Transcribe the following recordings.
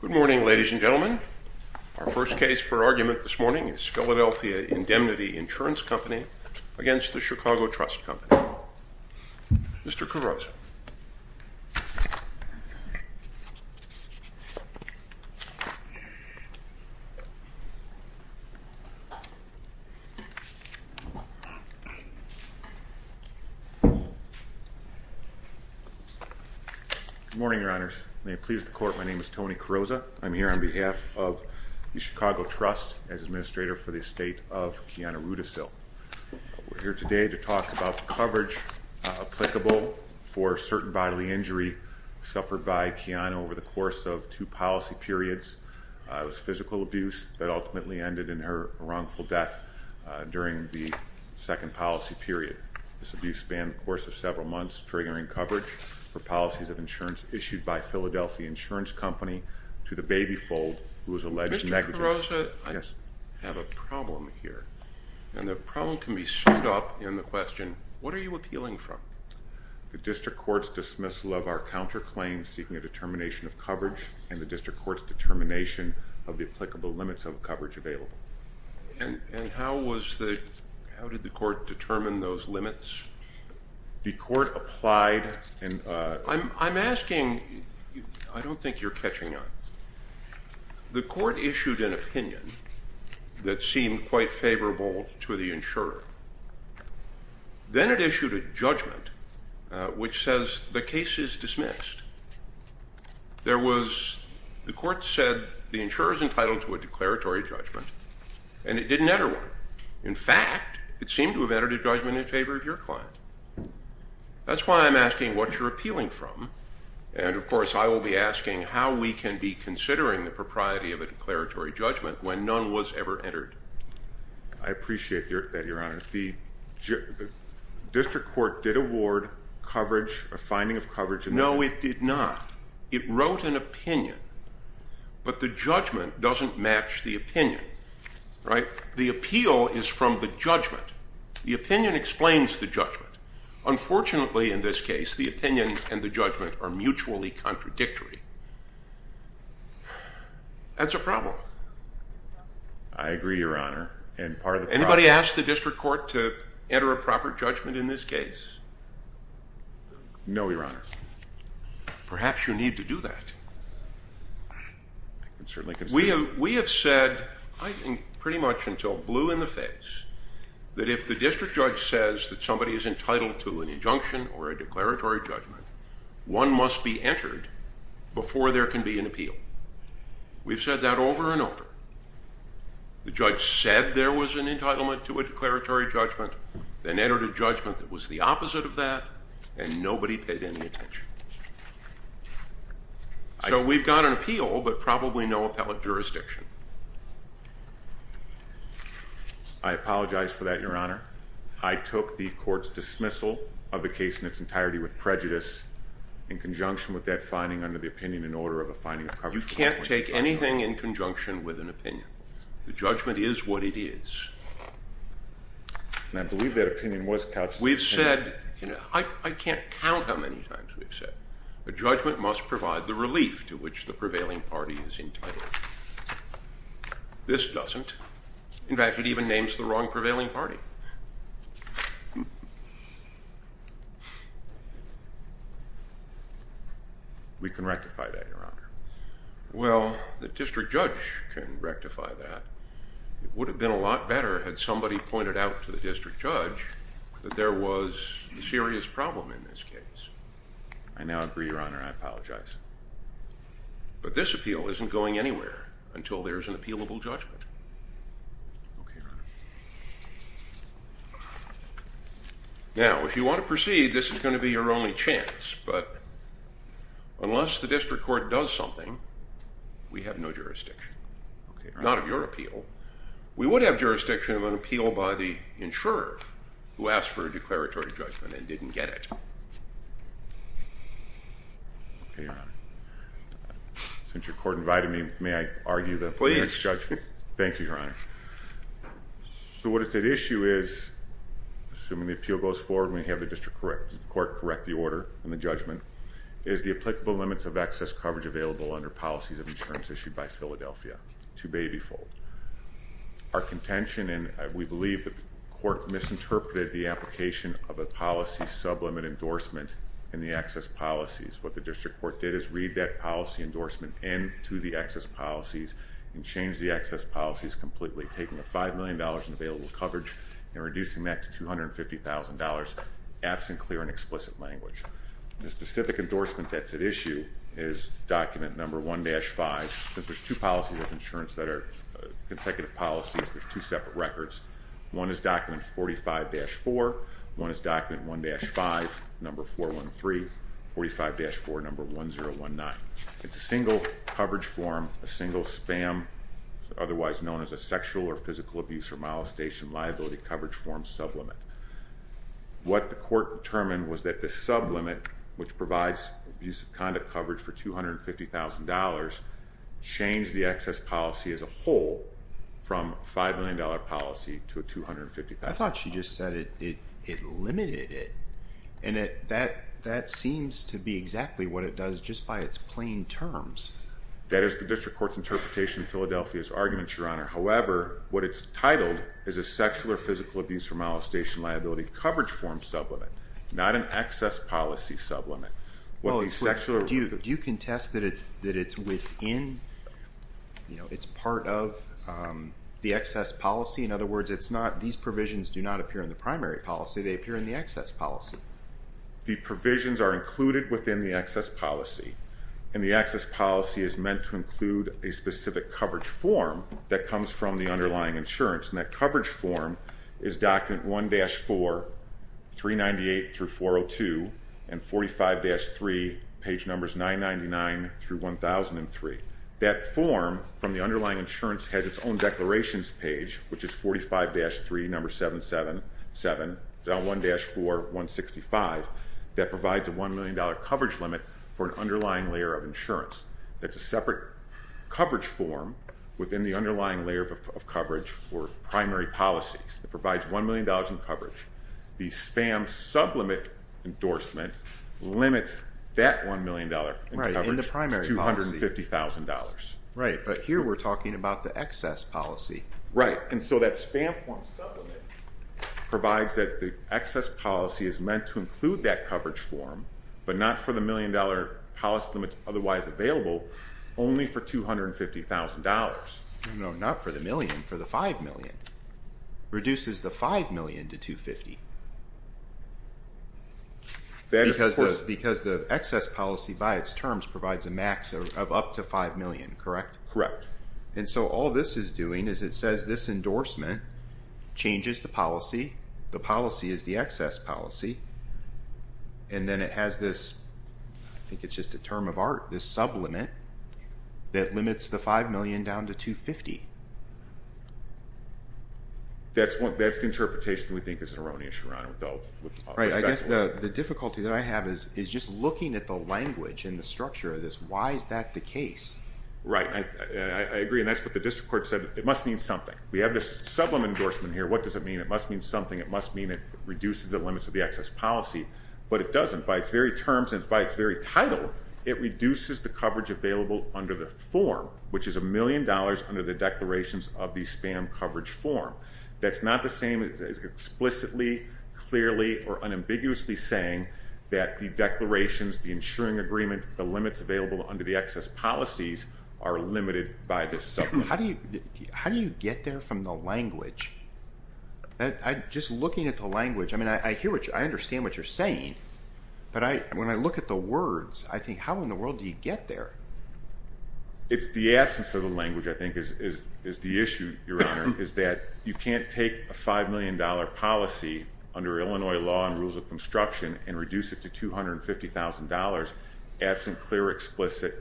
Good morning ladies and gentlemen. Our first case for argument this morning is Philadelphia Indemnity Insurance Company against the Chicago Trust Company. Mr. Good morning, your honors. May it please the court, my name is Tony Carrozza. I'm here on behalf of the Chicago Trust as administrator for the estate of Kiana Rudisill. We're here today to talk about the coverage applicable for certain bodily injury suffered by Kiana over the course of two policy periods. It was physical abuse that ultimately ended in her wrongful death during the second policy period. This abuse spanned the course of several months, triggering coverage for policies of insurance issued by Philadelphia Insurance Company to the baby fold who was alleged negative. Mr. Carrozza, I have a problem here. And the problem can be summed up in the question, what are you appealing from? The district court's dismissal of our counterclaims seeking a determination of coverage and the district court's determination of the applicable limits of coverage available. And how was the, how did the court determine those limits? The court applied and I'm asking, I don't think you're catching on. The court issued an opinion that seemed quite favorable to the insurer. Then it issued a judgment which says the case is dismissed. There was, the court said the insurer's entitled to a declaratory judgment and it didn't enter one. In fact, it seemed to have entered a judgment in favor of your client. That's why I'm asking what you're appealing from and of course I will be asking how we can be considering the propriety of a declaratory judgment when none was ever entered. I appreciate that, your honor. The district court did award coverage, a finding of coverage- No, it did not. It wrote an opinion. But the judgment doesn't match the opinion, right? The appeal is from the judgment. The opinion explains the judgment. Unfortunately, in this case, the opinion and the judgment are mutually contradictory. That's a problem. I agree, your honor. And part of the- Anybody ask the district court to enter a proper judgment in this case? No, your honor. Perhaps you need to do that. I can certainly consider that. We have said, I think pretty much until blue in the face, that if the district judge says that somebody is entitled to an injunction or a declaratory judgment, one must be entered before there can be an appeal. We've said that over and over. The judge said there was an entitlement to a declaratory judgment, then entered a judgment that was the opposite of that, and nobody paid any attention. So we've got an appeal, but probably no appellate jurisdiction. I apologize for that, your honor. I took the court's dismissal of the case in its entirety with prejudice in conjunction with that finding under the opinion and order of a finding of coverage- You can't take anything in conjunction with an opinion. The judgment is what it is. And I believe that opinion was couched- We've said, I can't count how many times we've said, a judgment must provide the relief to which the prevailing party is entitled. This doesn't. In fact, it even names the wrong prevailing party. We can rectify that, your honor. Well, the district judge can rectify that. It would have been a lot better had somebody pointed out to the district judge that there was a serious problem in this case. I now agree, your honor. I apologize. But this appeal isn't going anywhere until there's an appealable judgment. Now, if you want to proceed, this is going to be your only chance. But unless the district court does something, we have no jurisdiction. Not of your appeal. We would have jurisdiction of an appeal by the insurer who asked for a declaratory judgment and didn't get it. Okay, your honor. Since your court invited me, may I argue the- Please. Thank you, your honor. So, what is at issue is, assuming the appeal goes forward and we have the district court correct the order and the judgment, is the applicable limits of access coverage available under policies of insurance issued by Philadelphia. Two baby fold. Our contention, and we believe that the court misinterpreted the application of a policy sublimit endorsement in the access policies. What the district court did is read that policy endorsement into the access policies and change the access policies completely. Taking the $5 million in available coverage and reducing that to $250,000, absent clear and explicit language. The specific endorsement that's at issue is document number 1-5. Since there's two policies of insurance that are consecutive policies, there's two separate records. One is document 45-4, one is document 1-5, number 413. 45-4, number 1019. It's a single coverage form, a single spam, otherwise known as a sexual or physical abuse or molestation liability coverage form sublimit. What the court determined was that the sublimit, which provides abuse of conduct coverage for $250,000, changed the access policy as a whole from $5 million policy to a $250,000 policy. I thought she just said it limited it. And that seems to be exactly what it does just by its plain terms. That is the district court's interpretation of Philadelphia's arguments, your honor. However, what it's titled is a sexual or physical abuse or molestation liability coverage form sublimit, not an access policy sublimit. What the sexual- Do you contest that it's within, it's part of the access policy? In other words, it's not, these provisions do not appear in the primary policy, they appear in the access policy. The provisions are included within the access policy, and the access policy is meant to include a specific coverage form that comes from the underlying insurance. And that coverage form is document 1-4, 398 through 402, and 45-3, page numbers 999 through 1003. That form from the underlying insurance has its own declarations page, which is 45-3, number 777, then 1-4, 165, that provides a $1 million coverage limit for an underlying layer of insurance. That's a separate coverage form within the underlying layer of coverage for primary policies. It provides $1 million in coverage. The spam sublimit endorsement limits that $1 million in coverage- Right, in the primary policy. $250,000. Right, but here we're talking about the access policy. Right, and so that spam form sublimit provides that the access policy is meant to include that coverage form, but not for the $1 million policy limits otherwise available, only for $250,000. No, not for the million, for the $5 million. Reduces the $5 million to $250,000. Because the access policy by its terms provides a max of up to $5 million, correct? Correct. And so all this is doing is it says this endorsement changes the policy, the policy is the access policy, and then it has this, I think it's just a term of art, this sublimit that limits the $5 million down to $250,000. That's the interpretation we think is erroneous, Your Honor, though. Right, I guess the difficulty that I have is just looking at the language and the structure of this, why is that the case? Right, I agree, and that's what the district court said, it must mean something. We have this sublimit endorsement here, what does it mean? It must mean something, it must mean it reduces the limits of the access policy, but it doesn't. By its very terms and by its very title, it reduces the coverage available under the form, which is $1 million under the declarations of the spam coverage form. That's not the same as explicitly, clearly, or unambiguously saying that the declarations, the insuring agreement, the limits available under the access policies are limited by this sublimit. How do you get there from the language? Just looking at the language, I mean, I hear what you, I understand what you're saying, but when I look at the words, I think how in the world do you get there? It's the absence of the language, I think, is the issue, Your Honor, is that you can't take a $5 million policy under Illinois law and rules of construction, and reduce it to $250,000 absent clear, explicit,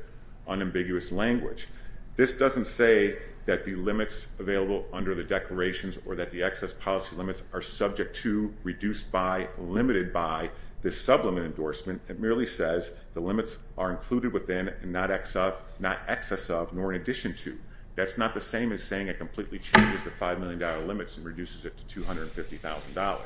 unambiguous language. This doesn't say that the limits available under the declarations or that the access policy limits are subject to, reduced by, limited by this sublimit endorsement. It merely says the limits are included within and not excess of, nor in addition to. That's not the same as saying it completely changes the $5 million limits and reduces it to $250,000.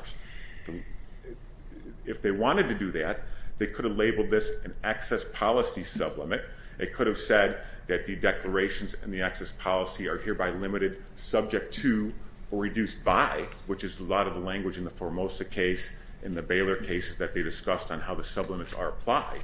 If they wanted to do that, they could have labeled this an access policy sublimit. It could have said that the declarations and the access policy are hereby limited, subject to, or reduced by, which is a lot of the language in the Formosa case, in the Baylor cases that they discussed on how the sublimits are applied.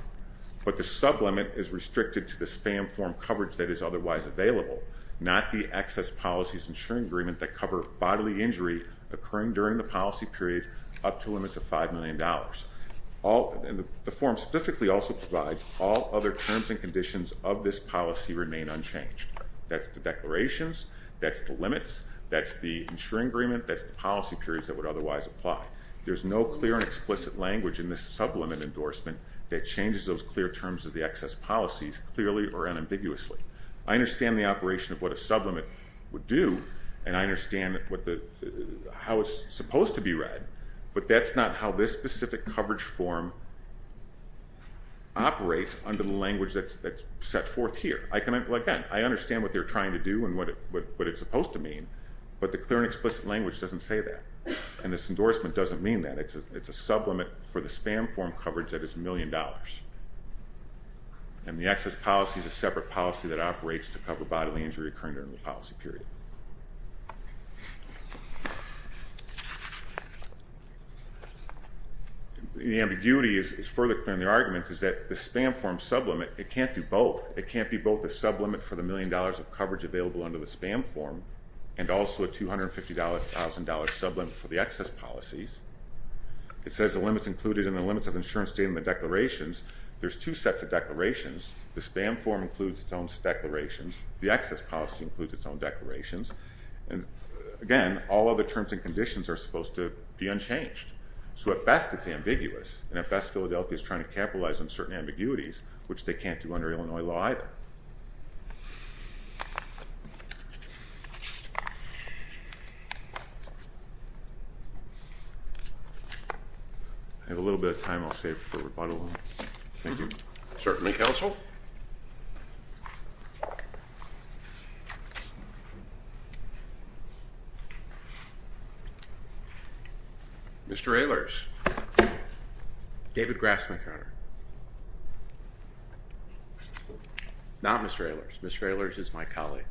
But the sublimit is restricted to the spam form coverage that is otherwise available, not the access policies insuring agreement that cover bodily injury occurring during the policy period up to limits of $5 million. The form specifically also provides all other terms and conditions of this policy remain unchanged. That's the declarations, that's the limits, that's the insuring agreement, that's the policy periods that would otherwise apply. There's no clear and explicit language in this sublimit endorsement that changes those clear terms of the access policies clearly or unambiguously. I understand the operation of what a sublimit would do and I understand how it's supposed to be read, but that's not how this specific coverage form operates under the language that's set forth here. Again, I understand what they're trying to do and what it's supposed to mean, but the clear and explicit language doesn't say that and this endorsement doesn't mean that. It's a sublimit for the spam form coverage that is $1 million and the access policy is a separate policy that operates to cover bodily injury occurring during the policy period. The ambiguity is further clear in their arguments is that the spam form sublimit, it can't do both. It can't be both the sublimit for the $50,000 sublimit for the access policies. It says the limits included in the limits of insurance statement declarations. There's two sets of declarations. The spam form includes its own declarations. The access policy includes its own declarations and again, all other terms and conditions are supposed to be unchanged. So at best it's ambiguous and at best Philadelphia is trying to capitalize on certain ambiguities, which they can't do under Illinois law either. I have a little bit of time. I'll save for rebuttal. Thank you. Certainly counsel. Mr. Ehlers. David Grassman Carter. Not Mr. Ehlers. Mr. Ehlers is my colleague.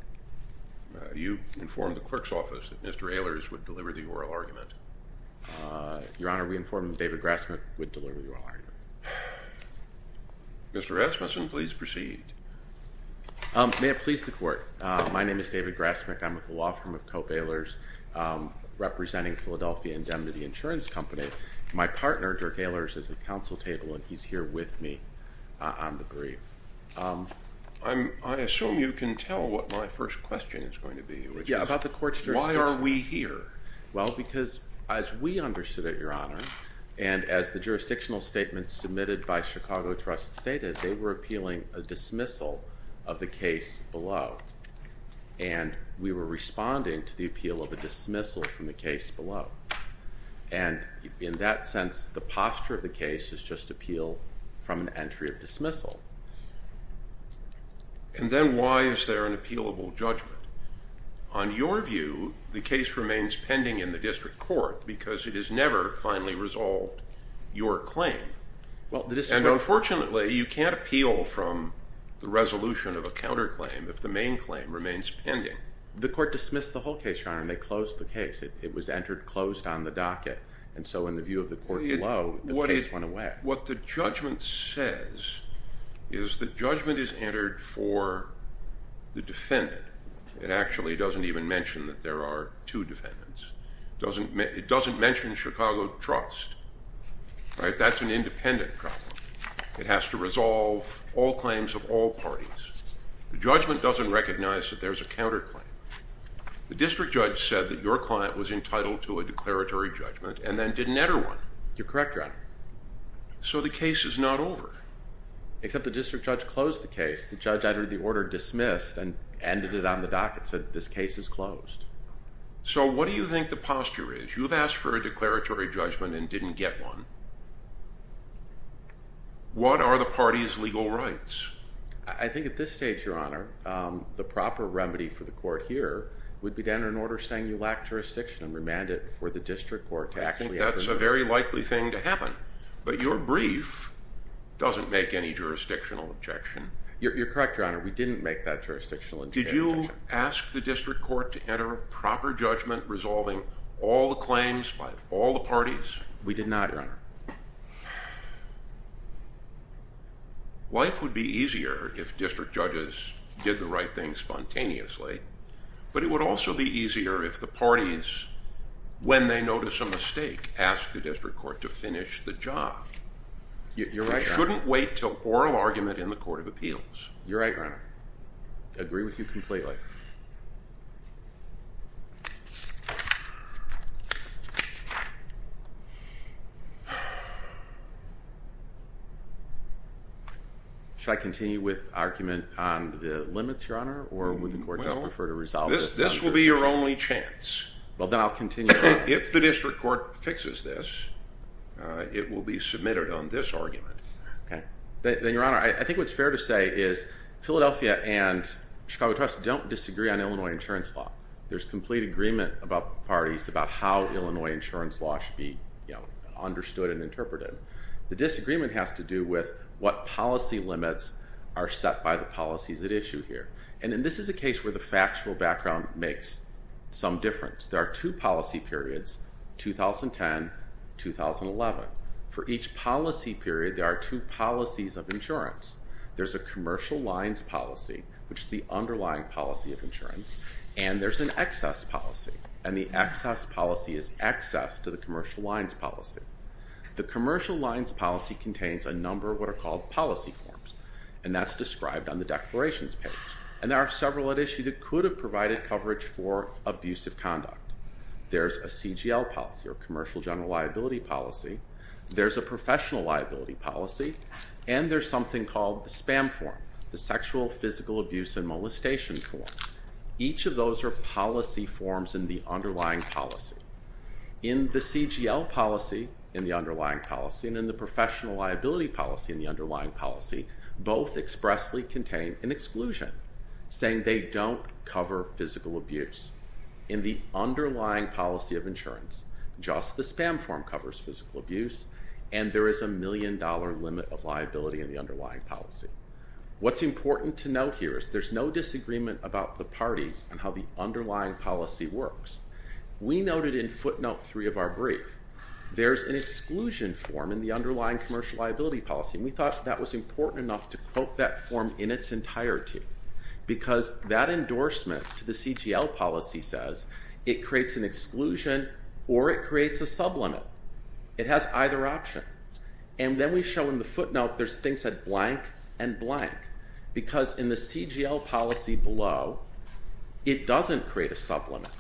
You informed the clerk's office that Mr. Ehlers would deliver the oral argument. Your Honor, we informed him that David Grassman would deliver the oral argument. Mr. Rasmussen, please proceed. May it please the court. My name is David Grassman. I'm with the law firm of Cope Ehlers, representing Philadelphia Indemnity Insurance Company. My partner, Dirk Ehlers, is at the council table and he's here with me on the brief. I assume you can tell what my first question is going to be, which is why are we here? Well, because as we understood it, Your Honor, and as the jurisdictional statements submitted by Chicago Trust stated, they were appealing a dismissal of the case below. And we were responding to the appeal of a dismissal from the case below. And in that sense, the posture of the case is just appeal from an entry of dismissal. And then why is there an appealable judgment? On your view, the case remains pending in the district court because it has never finally resolved your claim. And unfortunately, you can't appeal from the resolution of a counterclaim if the main claim remains pending. The court dismissed the whole case, Your Honor, and they closed the case. It was entered closed on the docket. And so in the view of the court below, the case went away. What the judgment says is the judgment is entered for the defendant. It actually doesn't even mention that there are two defendants. It doesn't mention Chicago Trust. That's an independent problem. It has to resolve all claims of all parties. The judgment doesn't recognize that there's a counterclaim. The district judge said that your client was entitled to a declaratory judgment and then didn't enter one. You're correct, Your Honor. So the case is not over. Except the district judge closed the case. The judge entered the order dismissed and ended it on the docket, said this case is closed. So what do you think the posture is? You've asked for a declaratory judgment and didn't get one. What are the party's legal rights? I think at this stage, Your Honor, the proper remedy for the court here would be to enter an order saying you lack jurisdiction and remand it for the district court. I think that's a very likely thing to happen. But your brief doesn't make any jurisdictional objection. You're correct, Your Honor. We didn't make that jurisdictional objection. Did you ask the district court to enter a proper judgment resolving all the claims by all the parties? We did not, Your Honor. Life would be easier if district judges did the right thing spontaneously, but it would also be easier if the parties, when they notice a mistake, ask the district court to finish the job. You're right, Your Honor. You shouldn't wait till oral argument in the court of appeals. You're right, Your Honor. I agree with you completely. Should I continue with argument on the limits, Your Honor, or would the court just prefer to resolve this? This will be your only chance. Well, then I'll continue. If the district court fixes this, it will be submitted on this argument. Okay. Then, Your Honor, I think what's fair to say is Philadelphia and Chicago Trust don't disagree on Illinois insurance law. There's complete agreement about parties about how Illinois insurance law should be understood and interpreted. The disagreement has to do with what policy limits are set by the policies at issue here, and this is a case where the factual background makes some difference. There are two policy periods, 2010-2011. For each policy period, there are two policies of insurance. There's a commercial lines policy, which is the underlying policy of insurance, and there's an excess policy, and the excess policy is access to the commercial lines policy. The commercial lines policy contains a number of what are called policy forms, and that's described on the declarations page, and there are several at issue that could have provided coverage for abusive conduct. There's a CGL policy, or commercial general liability policy. There's a professional liability policy, and there's called the SPAM form, the sexual, physical abuse, and molestation form. Each of those are policy forms in the underlying policy. In the CGL policy, in the underlying policy, and in the professional liability policy, in the underlying policy, both expressly contain an exclusion, saying they don't cover physical abuse. In the underlying policy of insurance, just the SPAM form covers physical abuse. What's important to note here is there's no disagreement about the parties and how the underlying policy works. We noted in footnote three of our brief, there's an exclusion form in the underlying commercial liability policy, and we thought that was important enough to quote that form in its entirety, because that endorsement to the CGL policy says it creates an exclusion, or it creates a sublimit. It has either option, and then we show in the footnote there's things blank and blank, because in the CGL policy below, it doesn't create a sublimit.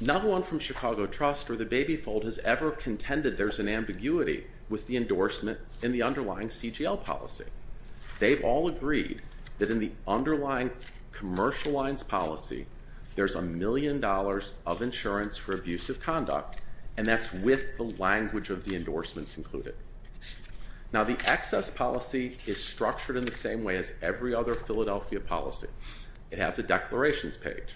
Not one from Chicago Trust or the Baby Fold has ever contended there's an ambiguity with the endorsement in the underlying CGL policy. They've all agreed that in the underlying commercial lines policy, there's a million dollars of insurance for abusive conduct, and that's with the language of the endorsements included. Now the excess policy is structured in the same way as every other Philadelphia policy. It has a declarations page.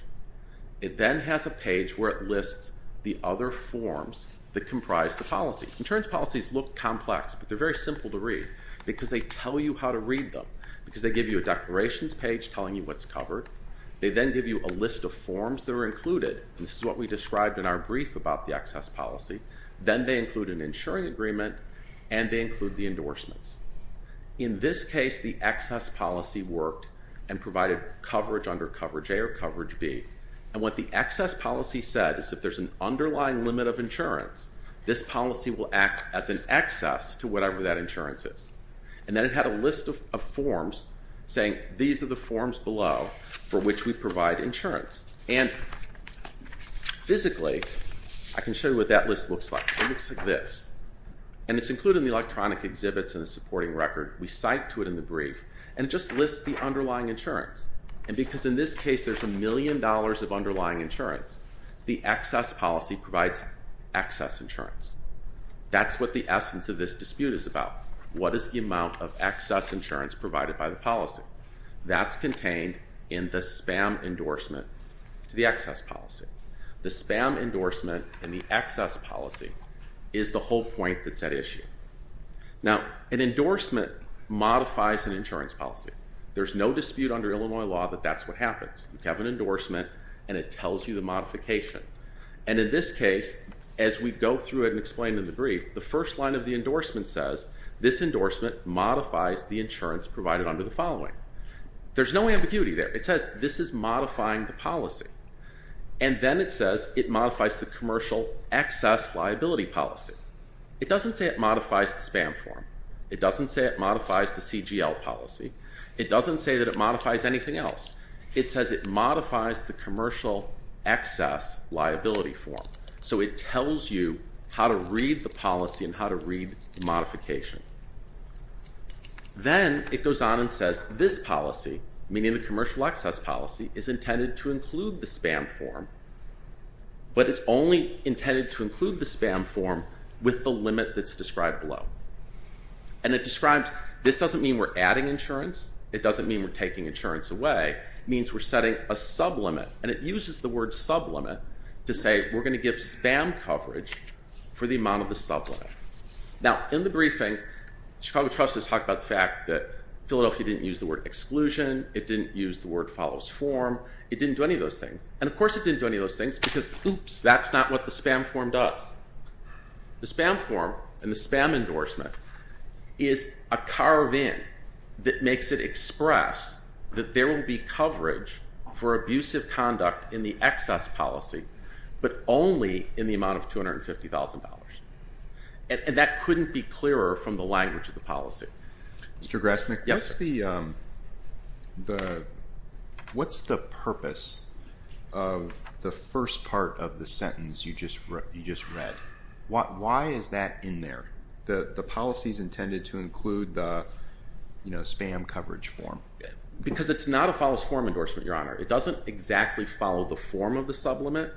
It then has a page where it lists the other forms that comprise the policy. Insurance policies look complex, but they're very simple to read, because they tell you how to read them, because they give you a declarations page telling you what's covered. They then give you a list of forms that are included, and this is what we described in our brief about the excess policy. Then they include an insuring agreement, and they include the endorsements. In this case, the excess policy worked and provided coverage under coverage A or coverage B, and what the excess policy said is if there's an underlying limit of insurance, this policy will act as an excess to whatever that insurance is, and then it had a list of forms saying these are the forms below for which we provide insurance, and physically I can show you what that list looks like. It looks like this, and it's included in the electronic exhibits in the supporting record. We cite to it in the brief, and it just lists the underlying insurance, and because in this case there's a million dollars of underlying insurance, the excess policy provides excess insurance. That's what the essence of this dispute is about. What is the amount of excess insurance provided by the policy? That's contained in the spam endorsement to the excess policy. The spam endorsement in the excess policy is the whole point that's at issue. Now, an endorsement modifies an insurance policy. There's no dispute under Illinois law that that's what happens. You have an endorsement, and it tells you the modification, and in this case, as we go through it and explain in the brief, the first line of the endorsement says this endorsement modifies the insurance provided under the following. There's no ambiguity there. It says this is modifying the policy, and then it says it modifies the commercial excess liability policy. It doesn't say it modifies the spam form. It doesn't say it modifies the CGL policy. It doesn't say that it modifies anything else. It says it modifies the modification. Then it goes on and says this policy, meaning the commercial excess policy, is intended to include the spam form, but it's only intended to include the spam form with the limit that's described below, and it describes this doesn't mean we're adding insurance. It doesn't mean we're taking insurance away. It means we're setting a sublimit, and it uses the word sublimit to say we're going to give spam coverage for the amount of the sublimit. Now, in the briefing, Chicago Trustees talked about the fact that Philadelphia didn't use the word exclusion. It didn't use the word follows form. It didn't do any of those things, and of course it didn't do any of those things because oops, that's not what the spam form does. The spam form and the spam endorsement is a carve-in that makes it express that there will be coverage for abusive conduct in the excess policy, but only in the amount of $250,000, and that couldn't be clearer from the language of the policy. Mr. Grassman, what's the purpose of the first part of the sentence you just read? Why is that in there? The policy is intended to include the spam coverage form because it's not a follows form endorsement, Your Honor. It doesn't exactly follow the form of the sublimit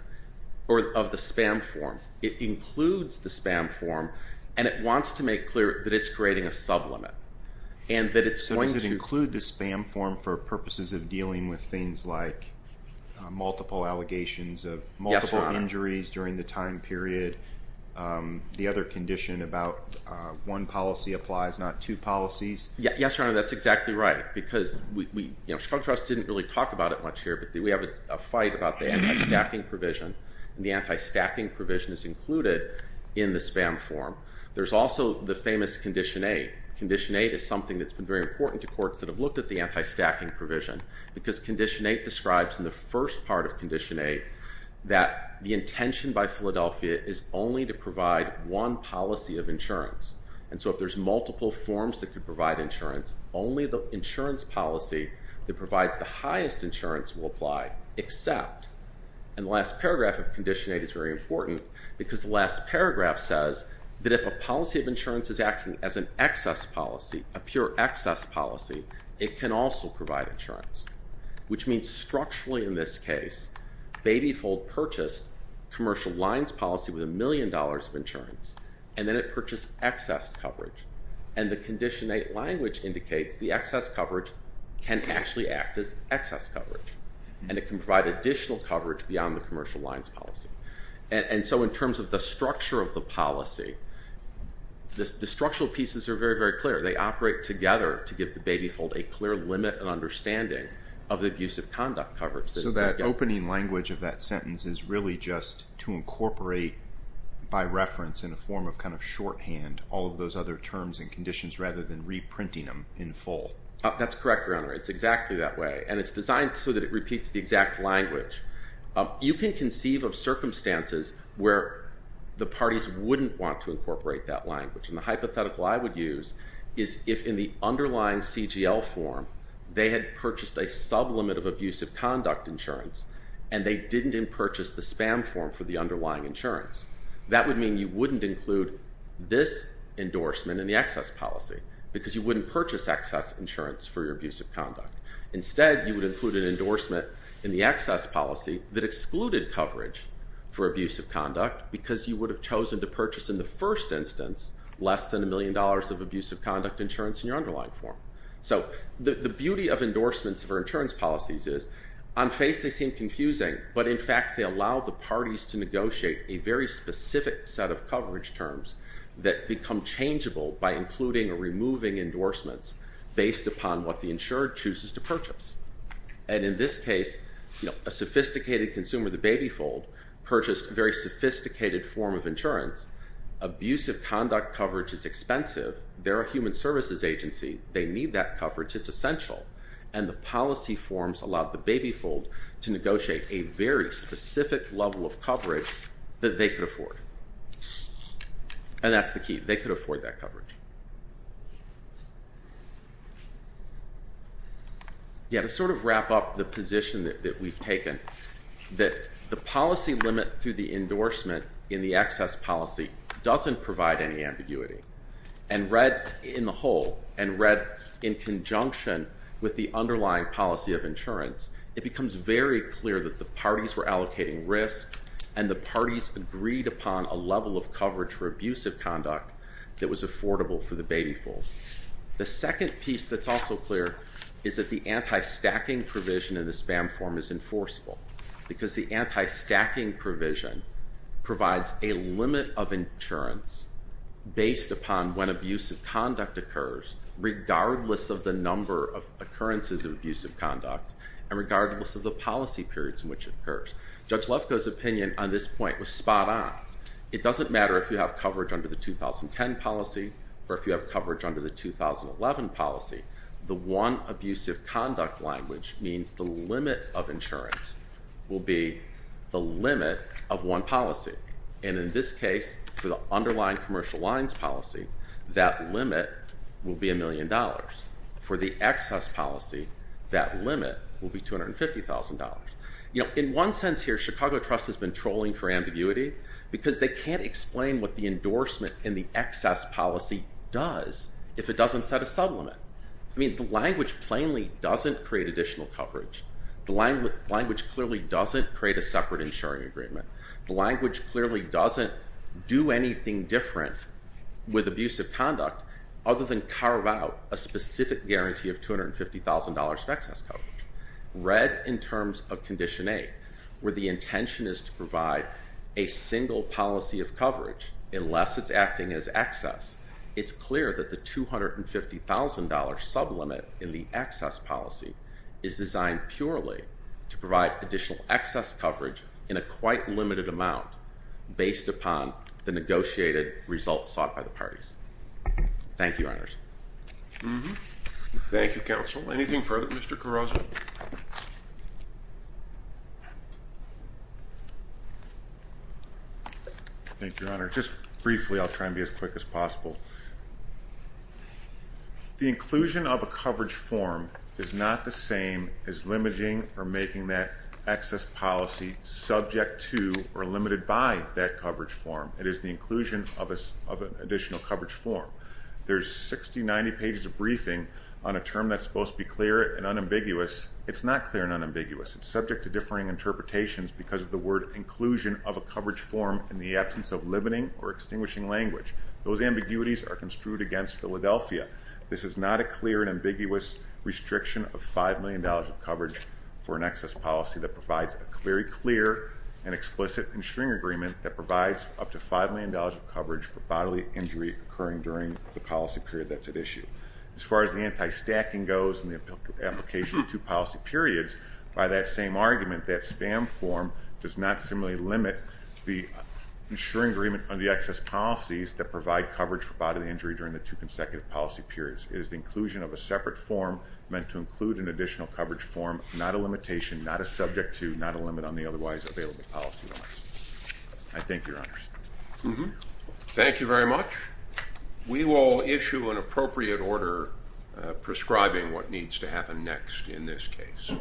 or of the spam form. It includes the spam form, and it wants to make clear that it's creating a sublimit, and that it's going to... So does it include the spam form for purposes of dealing with things like multiple allegations of multiple injuries during the time period, the other condition about one policy applies, not two policies? Yes, Your Honor. That's exactly right, because Chicago Trust didn't really talk about it much here, but we have a fight about the anti-stacking provision, and the anti-stacking provision is included in the spam form. There's also the famous Condition 8. Condition 8 is something that's been very important to courts that have looked at the anti-stacking provision, because Condition 8 describes in the first part of Condition 8 that the intention by Philadelphia is only to provide one policy of insurance, and so if there's multiple forms that could provide insurance, only the insurance policy that provides the highest insurance will apply, except... And the last paragraph of Condition 8 is very important, because the last paragraph says that if a policy of insurance is acting as an excess policy, a pure excess policy, it can also provide insurance, which means structurally in this case, Babyfold purchased Commercial Lines policy with a million dollars of insurance, and then it purchased excess coverage, and the Condition 8 language indicates the excess coverage can actually act as excess coverage, and it can provide additional coverage beyond the Commercial Lines policy, and so in terms of the structure of the policy, the structural pieces are very, very clear. They operate together to give the Babyfold a clear limit and understanding of the abusive conduct coverage. So that opening language of that sentence is really just to incorporate by reference in a form of kind of shorthand all of those other terms and conditions rather than reprinting them in full. That's correct, Your Honor. It's exactly that way, and it's designed so that it repeats the exact language. You can conceive of circumstances where the parties wouldn't want to incorporate that language, and the hypothetical I would use is if in the underlying CGL form, they had purchased a sublimit of abusive conduct insurance, and they didn't purchase the spam form for the underlying insurance, that would mean you wouldn't include this endorsement in the excess policy because you wouldn't purchase excess insurance for your abusive conduct. Instead, you would include an endorsement in the excess policy that excluded coverage for abusive conduct because you would have chosen to purchase in the first instance less than a million dollars of abusive conduct insurance in your underlying form. So the beauty of endorsements for insurance policies is on face they seem confusing, but in fact they allow the parties to negotiate a very specific set of coverage terms that become changeable by including or removing endorsements based upon what the insured chooses to purchase. And in this case, a sophisticated consumer, the baby fold, purchased a very sophisticated form of insurance. Abusive conduct coverage is expensive. They're a human services agency. They need that coverage. It's essential. And the policy forms allowed the baby fold to negotiate a very specific level of coverage that they could afford. And that's the key. They could afford that coverage. Yeah, to sort of wrap up the position that we've taken, that the policy limit through the endorsement in the excess policy doesn't provide any ambiguity. And read in the whole and read in conjunction with the underlying policy of insurance, it becomes very clear that the parties were allocating risk and the parties agreed upon a level of coverage for abusive conduct that was affordable for the baby fold. The second piece that's also clear is that the anti-stacking provision in the spam form is when abusive conduct occurs regardless of the number of occurrences of abusive conduct and regardless of the policy periods in which it occurs. Judge Lefkoe's opinion on this point was spot on. It doesn't matter if you have coverage under the 2010 policy or if you have coverage under the 2011 policy. The one abusive conduct language means the limit of insurance will be the limit of one policy. And in this case, for the underlying commercial lines policy, that limit will be a million dollars. For the excess policy, that limit will be $250,000. In one sense here, Chicago Trust has been trolling for ambiguity because they can't explain what the endorsement in the excess policy does if it doesn't set a sublimit. I mean, the language plainly doesn't create additional coverage. The language clearly doesn't create a separate insuring agreement. The language clearly doesn't do anything different with abusive conduct other than carve out a specific guarantee of $250,000 of excess coverage. Read in terms of Condition 8, where the intention is to provide a single policy of coverage unless it's acting as excess, it's clear that the $250,000 sublimit in the excess policy is designed purely to provide additional excess coverage in a quite limited amount based upon the negotiated results sought by the parties. Thank you, Your Honors. Thank you, Counsel. Anything further, Mr. Carozza? Thank you, Your Honor. Just briefly, I'll try and be as quick as possible. The inclusion of a coverage form is not the same as limiting or making that excess policy subject to or limited by that coverage form. It is the inclusion of an additional coverage form. There's 60, 90 pages of briefing on a term that's supposed to be clear and unambiguous. It's not clear and unambiguous. It's subject to differing interpretations because of the word inclusion of a coverage form in the absence of limiting or extinguishing language. Those ambiguities are construed against Philadelphia. This is not a clear and ambiguous restriction of $5 million of coverage for an excess policy that provides a very clear and explicit insuring agreement that provides up to $5 million of coverage for bodily injury occurring during the policy period that's at issue. As far as the anti-stacking goes in the application of two policy periods, by that same argument, that spam form does not similarly limit the insuring agreement on the excess policies that provide coverage for bodily injury during the two consecutive policy periods. It is the inclusion of a separate form meant to include an additional coverage form, not a limitation, not a subject to, not a limit on the otherwise available policy limits. I thank you, Your Honors. Thank you very much. We will issue an appropriate order prescribing what needs to happen next in this case.